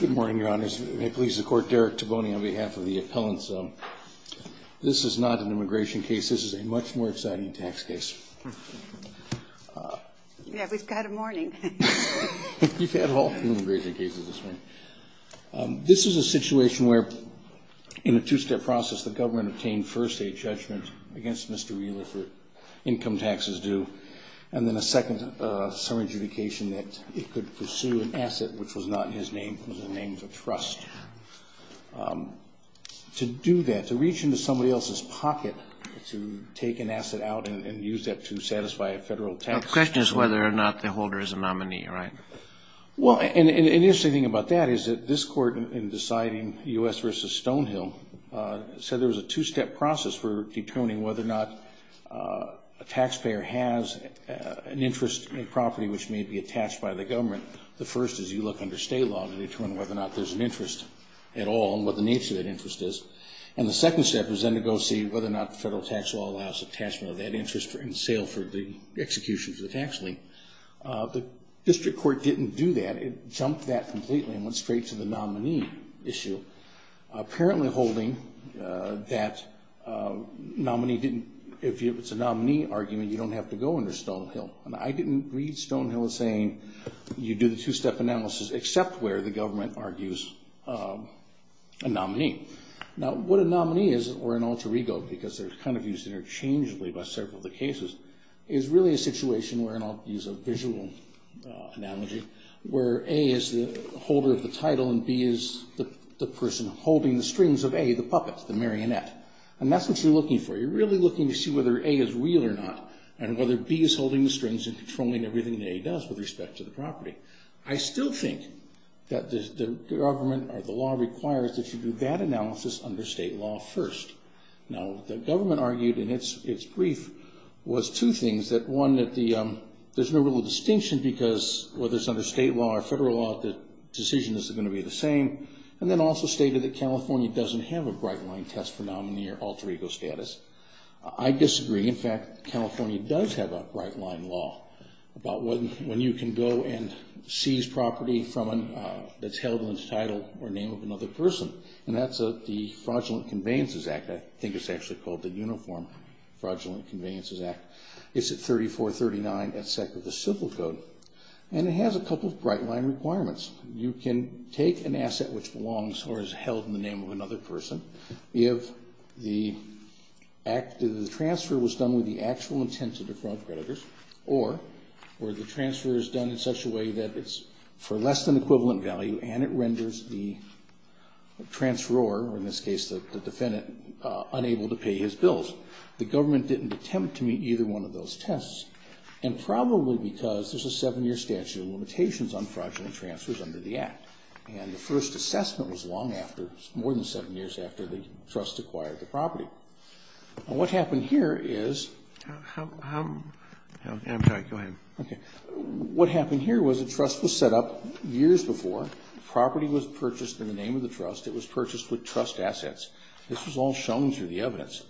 Good morning, Your Honors. May it please the Court, Derek Toboney on behalf of the appellants. This is not an immigration case. This is a much more exciting tax case. Yeah, we've got a morning. You've had all the immigration cases this morning. This is a situation where in a two-step process the government obtained first a judgment against Mr. Wheeler for income taxes due and then a second summary adjudication that it could pursue an asset which was not in his name but in the name of trust. To do that, to reach into somebody else's pocket, to take an asset out and use that to satisfy a federal tax... The question is whether or not the holder is a nominee, right? Well, and the interesting thing about that is that this Court in deciding U.S. v. Stonehill said there was a two-step process for an interest in a property which may be attached by the government. The first is you look under state law to determine whether or not there's an interest at all and what the nature of that interest is. And the second step is then to go see whether or not the federal tax law allows attachment of that interest in sale for the execution of the tax lien. The district court didn't do that. It jumped that completely and went straight to the nominee issue, apparently holding that if it's a nominee argument, you don't have to go under Stonehill. And I didn't read Stonehill as saying you do the two-step analysis except where the government argues a nominee. Now, what a nominee is, or an alter ego, because they're kind of used interchangeably by several of the cases, is really a situation where, and I'll use a visual analogy, where A is the holder of the title and B is the person holding the strings of A, the puppet, the marionette. And that's what you're looking for. You're really looking to see whether A is real or not and whether B is holding the strings and controlling everything that A does with respect to the property. I still think that the government or the law requires that you do that analysis under state law first. Now, the government argued in its brief was two things. One, that there's no real distinction because whether it's under state law or federal law, the decision is going to be the same. And then also stated that California doesn't have a bright-line test for nominee or alter ego status. I disagree. In fact, California does have a bright-line law about when you can go and seize property that's held in the title or name of another person, and that's the Fraudulent Conveyances Act. I think it's actually called the Uniform Fraudulent Conveyances Act. It's at 3439, SEC of the Civil Code, and it has a couple of bright-line requirements. You can take an asset which belongs or is held in the name of another person if the transfer was done with the actual intent to defraud creditors or the transfer is done in such a way that it's for less than equivalent value and it renders the transferor, or in this case the defendant, unable to pay his bills. The government didn't attempt to meet either one of those tests, and probably because there's a seven-year statute of limitations on fraudulent transfers under the Act. And the first assessment was long after, more than seven years after the trust acquired the property. And what happened here is... I'm sorry, go ahead. Okay. What happened here was the trust was set up years before. The property was purchased in the name of the trust. It was purchased with trust assets. This was all shown through the evidence.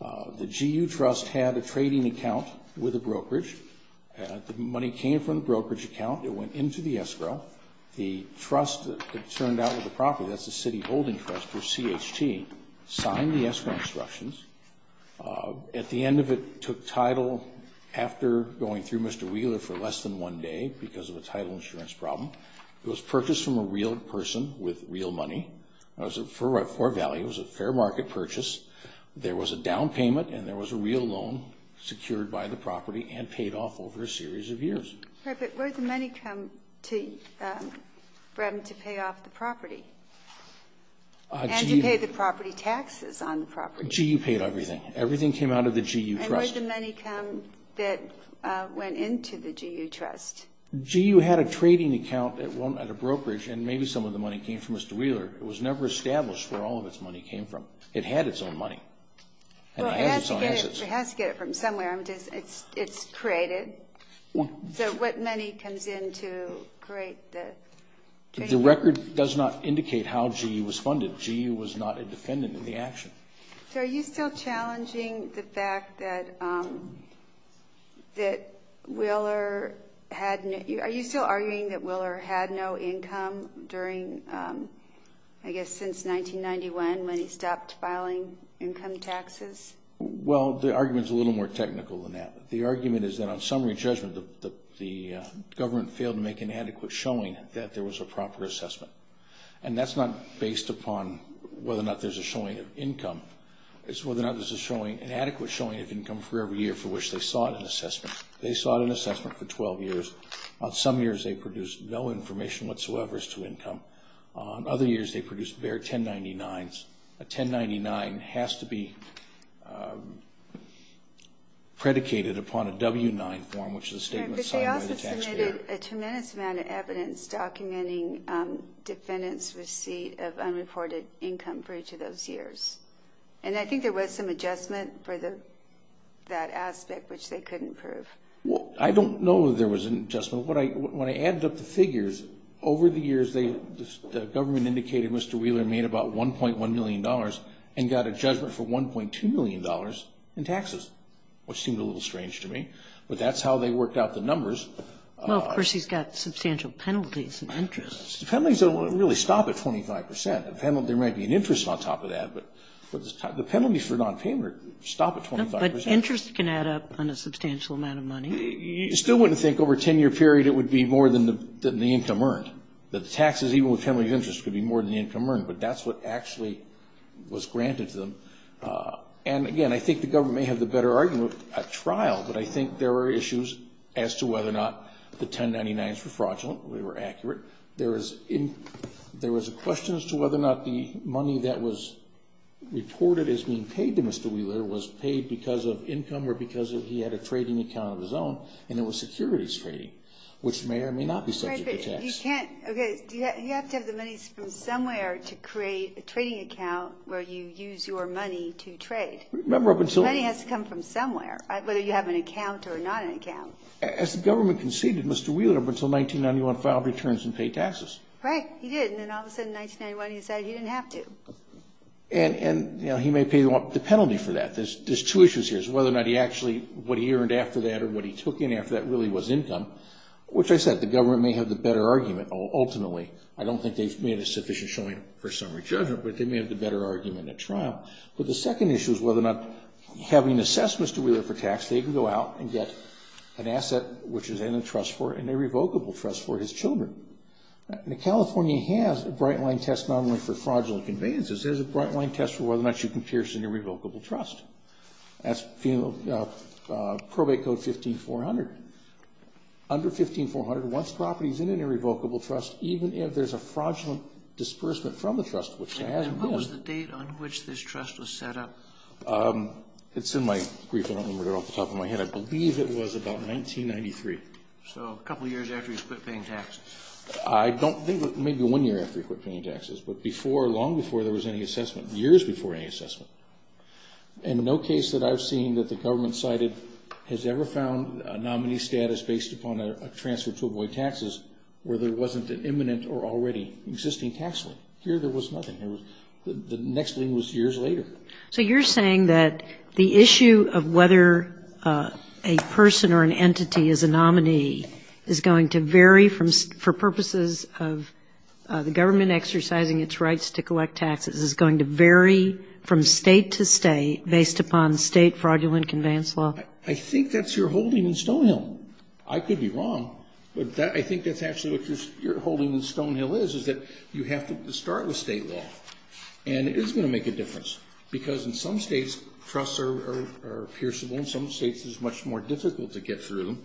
The GU trust had a trading account with a brokerage. The money came from the brokerage account. It went into the escrow. The trust that turned out with the property, that's the city holding trust, or CHT, signed the escrow instructions. At the end of it, it took title after going through Mr. Wheeler for less than one day because of a title insurance problem. It was purchased from a real person with real money. It was for value. It was a fair market purchase. There was a down payment and there was a real loan secured by the property and paid off over a series of years. But where did the money come from to pay off the property? And to pay the property taxes on the property. GU paid everything. Everything came out of the GU trust. And where did the money come that went into the GU trust? GU had a trading account at a brokerage, and maybe some of the money came from Mr. Wheeler. It was never established where all of its money came from. It had its own money. Well, it has to get it from somewhere. It's created. So what money comes in to create the trading account? The record does not indicate how GU was funded. GU was not a defendant in the action. So are you still challenging the fact that Wheeler had no income during, I guess, since 1991 when he stopped filing income taxes? Well, the argument is a little more technical than that. The argument is that on summary judgment, the government failed to make an adequate showing that there was a proper assessment. And that's not based upon whether or not there's a showing of income. It's whether or not there's an adequate showing of income for every year for which they sought an assessment. They sought an assessment for 12 years. Some years they produced no information whatsoever as to income. Other years they produced bare 1099s. A 1099 has to be predicated upon a W-9 form, which is a statement signed by the taxpayer. But they also submitted a tremendous amount of evidence documenting defendants' receipt of unreported income for each of those years. And I think there was some adjustment for that aspect, which they couldn't prove. I don't know that there was an adjustment. So when I added up the figures, over the years the government indicated Mr. Wheeler made about $1.1 million and got a judgment for $1.2 million in taxes, which seemed a little strange to me, but that's how they worked out the numbers. Well, of course, he's got substantial penalties and interest. The penalties don't really stop at 25 percent. The penalty might be an interest on top of that, but the penalties for nonpayment stop at 25 percent. But interest can add up on a substantial amount of money. You still wouldn't think over a 10-year period it would be more than the income earned, that the taxes, even with penalties of interest, could be more than the income earned. But that's what actually was granted to them. And, again, I think the government may have the better argument at trial, but I think there were issues as to whether or not the 1099s were fraudulent, whether they were accurate. There was a question as to whether or not the money that was reported as being paid to Mr. Wheeler was paid because of income or because he had a trading account of his own, and it was securities trading, which may or may not be subject to tax. Right, but you can't – okay, you have to have the money from somewhere to create a trading account where you use your money to trade. Remember, up until – The money has to come from somewhere, whether you have an account or not an account. As the government conceded, Mr. Wheeler, up until 1991, filed returns and paid taxes. Right, he did. And then all of a sudden, in 1991, he decided he didn't have to. And, you know, he may pay the penalty for that. There's two issues here, is whether or not he actually – what he earned after that or what he took in after that really was income, which I said, the government may have the better argument ultimately. I don't think they've made a sufficient showing for summary judgment, but they may have the better argument at trial. But the second issue is whether or not, having assessed Mr. Wheeler for tax, they can go out and get an asset which is in a trust for – an irrevocable trust for his children. Now, California has a bright-line test not only for fraudulent conveyances. There's a bright-line test for whether or not you can pierce an irrevocable trust. That's Probate Code 15-400. Under 15-400, once property is in an irrevocable trust, even if there's a fraudulent disbursement from the trust, which there hasn't been – And what was the date on which this trust was set up? It's in my brief. I don't remember it off the top of my head. I believe it was about 1993. So a couple of years after he quit paying taxes. I don't think – maybe one year after he quit paying taxes, but before – long before there was any assessment, years before any assessment. In no case that I've seen that the government cited has ever found a nominee status based upon a transfer to avoid taxes where there wasn't an imminent or already existing tax link. Here there was nothing. The next link was years later. So you're saying that the issue of whether a person or an entity is a nominee is going to vary from – for purposes of the government exercising its rights to collect taxes is going to vary from State to State based upon State fraudulent conveyance law? I think that's your holding in Stonehill. I could be wrong, but I think that's actually what your holding in Stonehill is, is that you have to start with State law. And it is going to make a difference because in some states, trusts are pierceable and in some states it's much more difficult to get through.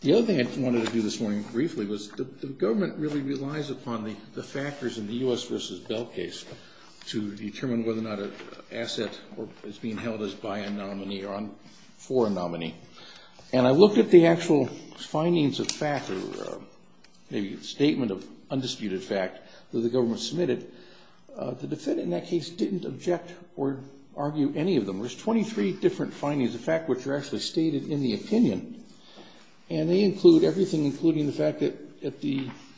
The other thing I wanted to do this morning briefly was the government really relies upon the factors in the U.S. v. Bell case to determine whether or not an asset is being held as by a nominee or for a nominee. And I looked at the actual findings of fact or the statement of undisputed fact that the government submitted. The defendant in that case didn't object or argue any of them. There's 23 different findings of fact which are actually stated in the opinion. And they include everything including the fact that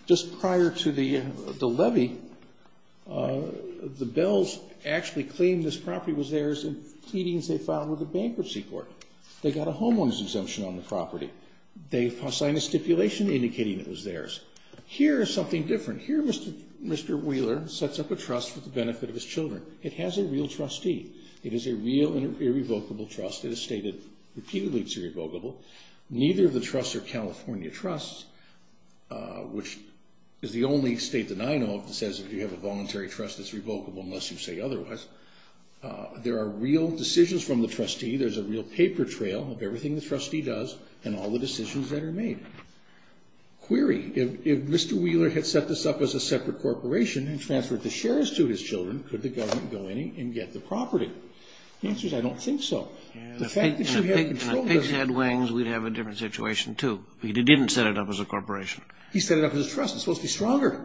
just prior to the levy, the Bells actually claimed this property was theirs in pleadings they filed with the bankruptcy court. They got a homeowner's exemption on the property. They signed a stipulation indicating it was theirs. Here is something different. Here Mr. Wheeler sets up a trust for the benefit of his children. It has a real trustee. It is a real and irrevocable trust. It is stated repeatedly it's irrevocable. Neither of the trusts are California trusts which is the only state that I know of that says if you have a voluntary trust it's revocable unless you say otherwise. There are real decisions from the trustee. There's a real paper trail of everything the trustee does and all the decisions that are made. Query. If Mr. Wheeler had set this up as a separate corporation and transferred the shares to his children, could the government go in and get the property? The answer is I don't think so. The fact that you have control doesn't mean we'd have a different situation too. He didn't set it up as a corporation. He set it up as a trust. It's supposed to be stronger.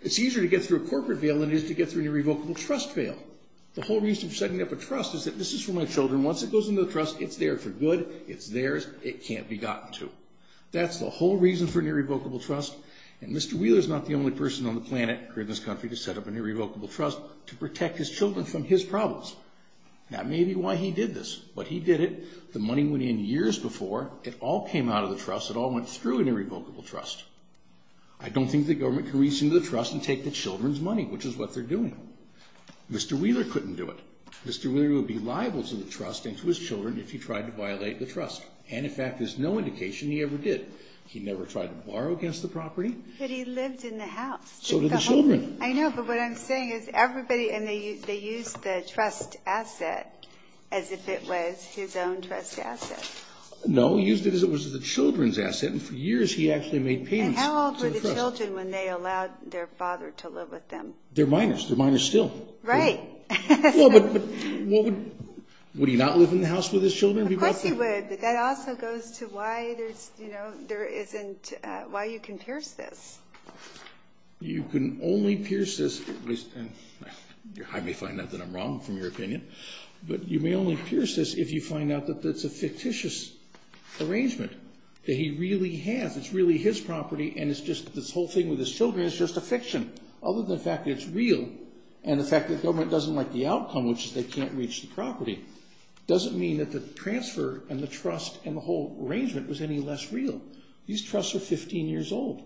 It's easier to get through a corporate veil than it is to get through an irrevocable trust veil. The whole reason for setting up a trust is that this is for my children. Once it goes into the trust, it's there for good. It's theirs. It can't be gotten to. That's the whole reason for an irrevocable trust. And Mr. Wheeler is not the only person on the planet or in this country to set up an irrevocable trust to protect his children from his problems. That may be why he did this. But he did it. The money went in years before. It all came out of the trust. It all went through an irrevocable trust. I don't think the government can reach into the trust and take the children's money, which is what they're doing. Mr. Wheeler couldn't do it. Mr. Wheeler would be liable to the trust and to his children if he tried to violate the trust. And, in fact, there's no indication he ever did. He never tried to borrow against the property. But he lived in the house. So did the children. I know, but what I'm saying is everybody, and they used the trust asset as if it was his own trust asset. No, he used it as if it was the children's asset, and for years he actually made payments to the trust. And how old were the children when they allowed their father to live with them? They're minors. They're minors still. Right. Well, but would he not live in the house with his children? Of course he would, but that also goes to why there isn't, why you can pierce this. You can only pierce this, and I may find out that I'm wrong from your opinion, but you may only pierce this if you find out that it's a fictitious arrangement that he really has. It's really his property, and it's just this whole thing with his children is just a fiction. Other than the fact that it's real and the fact that the government doesn't like the outcome, which is they can't reach the property, doesn't mean that the transfer and the trust and the whole arrangement was any less real. These trusts are 15 years old.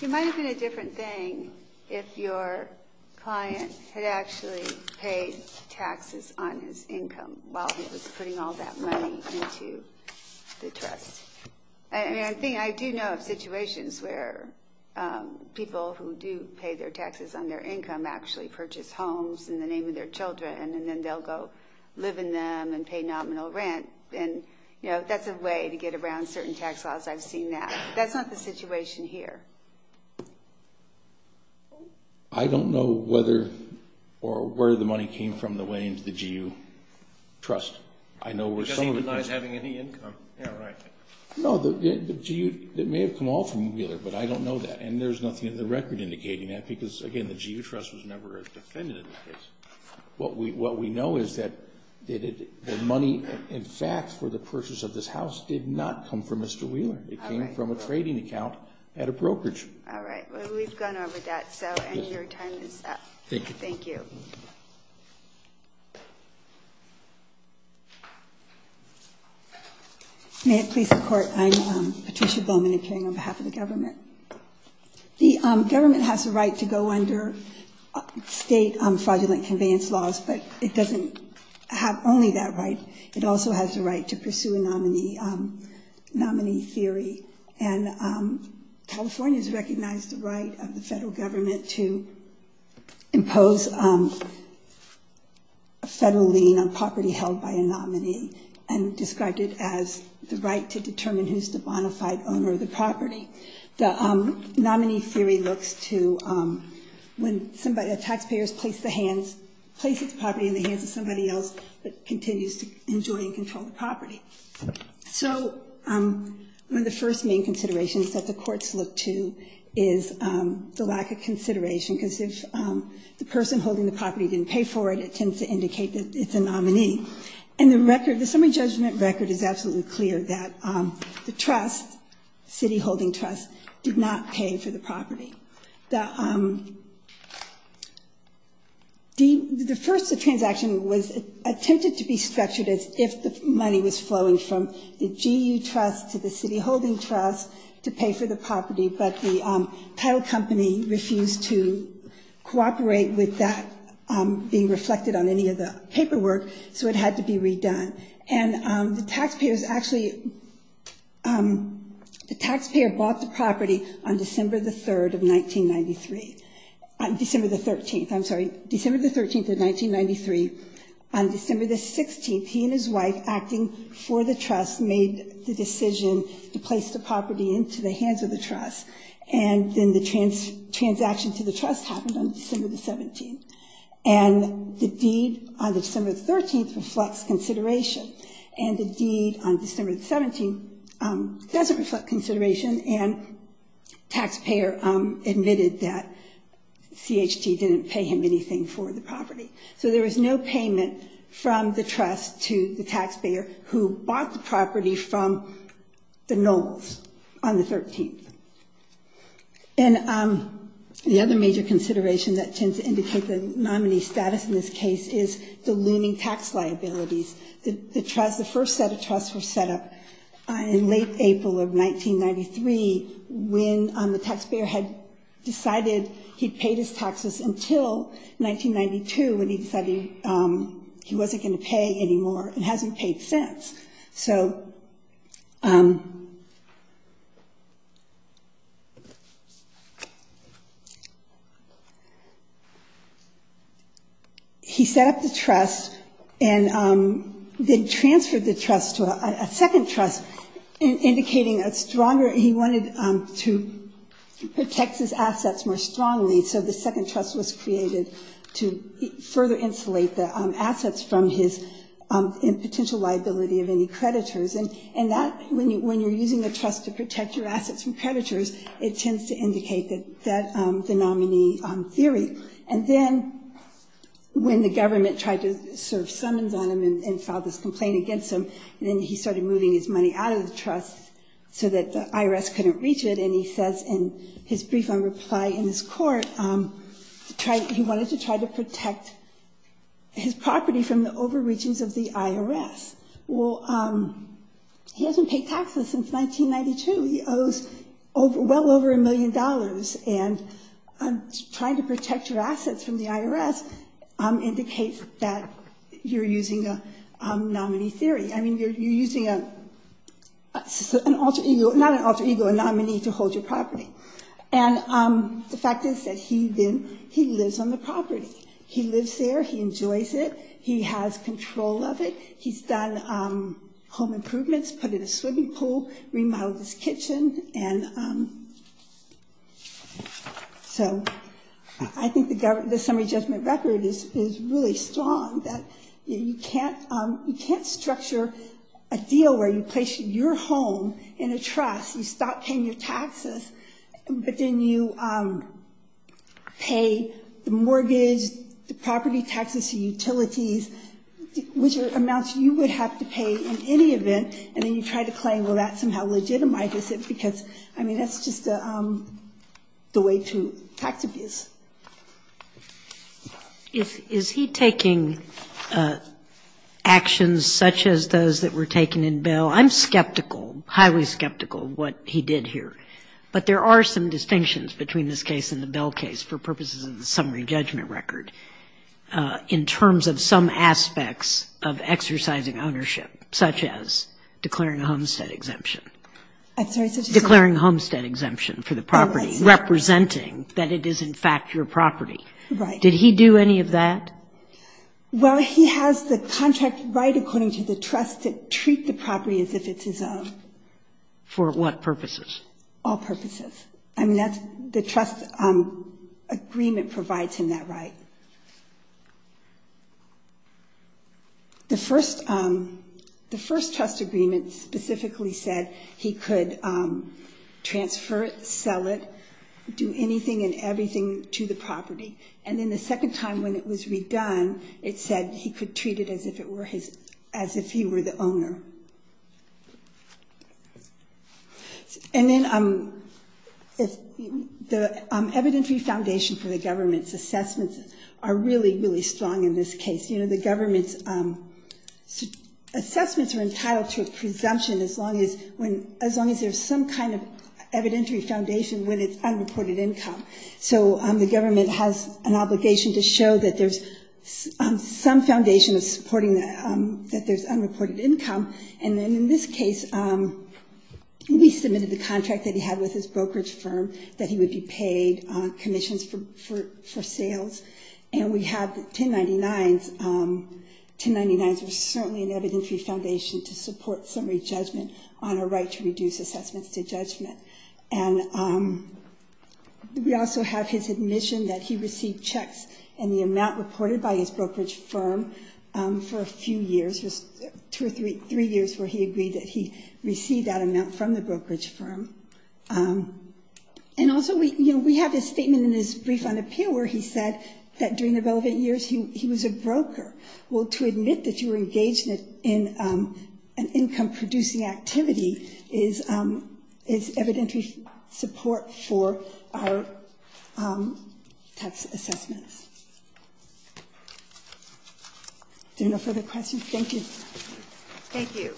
It might have been a different thing if your client had actually paid taxes on his income while he was putting all that money into the trust. I mean, I do know of situations where people who do pay their taxes on their income actually purchase homes in the name of their children, and then they'll go live in them and pay nominal rent. That's a way to get around certain tax laws. I've seen that. That's not the situation here. I don't know whether or where the money came from the way into the GU trust. Because he denies having any income. No, the GU, it may have come off from Wheeler, but I don't know that, and there's nothing in the record indicating that because, again, the GU trust was never a defendant in this case. What we know is that the money, in fact, for the purchase of this house did not come from Mr. Wheeler. It came from a trading account at a brokerage. All right. Well, we've gone over that, so your time is up. Thank you. Thank you. May it please the Court, I'm Patricia Bowman appearing on behalf of the government. The government has the right to go under state fraudulent conveyance laws, but it doesn't have only that right. It also has the right to pursue a nominee theory, and California has recognized the right of the federal government and described it as the right to determine who's the bona fide owner of the property. The nominee theory looks to when a taxpayer places the property in the hands of somebody else but continues to enjoy and control the property. So one of the first main considerations that the courts look to is the lack of consideration, because if the person holding the property didn't pay for it, it tends to indicate that it's a nominee. And the summary judgment record is absolutely clear that the trust, the city holding trust, did not pay for the property. The first transaction was intended to be structured as if the money was flowing from the GU trust to the city holding trust to pay for the property, but the title company refused to cooperate with that being reflected on any of the paperwork, so it had to be redone. And the taxpayers actually, the taxpayer bought the property on December the 3rd of 1993. December the 13th, I'm sorry, December the 13th of 1993. On December the 16th, he and his wife, acting for the trust, made the decision to place the property into the hands of the trust, and then the transaction to the trust happened on December the 17th. And the deed on December the 13th reflects consideration, and the deed on December the 17th doesn't reflect consideration, and the taxpayer admitted that CHT didn't pay him anything for the property. So there was no payment from the trust to the taxpayer, who bought the property from the Knowles on the 13th. And the other major consideration that tends to indicate the nominee's status in this case is the looming tax liabilities. The first set of trusts were set up in late April of 1993 when the taxpayer had decided he'd paid his taxes until 1992 when he decided he wasn't going to pay anymore and hasn't paid since. So he set up the trust and then transferred the trust to a second trust, indicating he wanted to protect his assets more strongly, so the second trust was created to further insulate the assets from his potential liability of any creditors. And when you're using a trust to protect your assets from creditors, it tends to indicate that the nominee theory. And then when the government tried to serve summons on him and filed this complaint against him, then he started moving his money out of the trust so that the IRS couldn't reach it, and he says in his brief on reply in his court, he wanted to try to protect his property from the overreachings of the IRS. Well, he hasn't paid taxes since 1992. He owes well over a million dollars, and trying to protect your assets from the IRS indicates that you're using a nominee theory. I mean, you're using an alter ego, not an alter ego, a nominee to hold your property. And the fact is that he lives on the property. He lives there, he enjoys it, he has control of it, he's done home improvements, put in a swimming pool, remodeled his kitchen, and so I think the summary judgment record is really strong that you can't structure a deal where you place your home in a trust, you stop paying your taxes, but then you pay the mortgage, the property taxes, the utilities, which are amounts you would have to pay in any event, and then you try to claim, well, that somehow legitimizes it, because, I mean, that's just the way to tax abuse. Is he taking actions such as those that were taken in bail? Well, I'm skeptical, highly skeptical of what he did here. But there are some distinctions between this case and the Bell case for purposes of the summary judgment record in terms of some aspects of exercising ownership, such as declaring a homestead exemption. I'm sorry. Declaring a homestead exemption for the property, representing that it is, in fact, your property. Right. Did he do any of that? Well, he has the contract right according to the trust to treat the property as if it's his own. For what purposes? All purposes. I mean, that's the trust agreement provides him that right. The first trust agreement specifically said he could transfer it, sell it, do anything and everything to the property. And then the second time when it was redone, it said he could treat it as if he were the owner. And then the evidentiary foundation for the government's assessments are really, really strong in this case. You know, the government's assessments are entitled to a presumption as long as there's some kind of evidentiary foundation when it's unreported income. So the government has an obligation to show that there's some foundation of supporting that there's unreported income. And then in this case, we submitted the contract that he had with his brokerage firm that he would be paid commissions for sales. And we have 1099s. 1099s are certainly an evidentiary foundation to support summary judgment on a right to reduce assessments to judgment. And we also have his admission that he received checks in the amount reported by his brokerage firm for a few years, just two or three years where he agreed that he received that amount from the brokerage firm. And also, you know, we have his statement in his brief on appeal where he said that during the relevant years he was a broker. Well, to admit that you were engaged in an income-producing activity is evidentiary support for our tax assessments. Are there no further questions? Thank you. Thank you.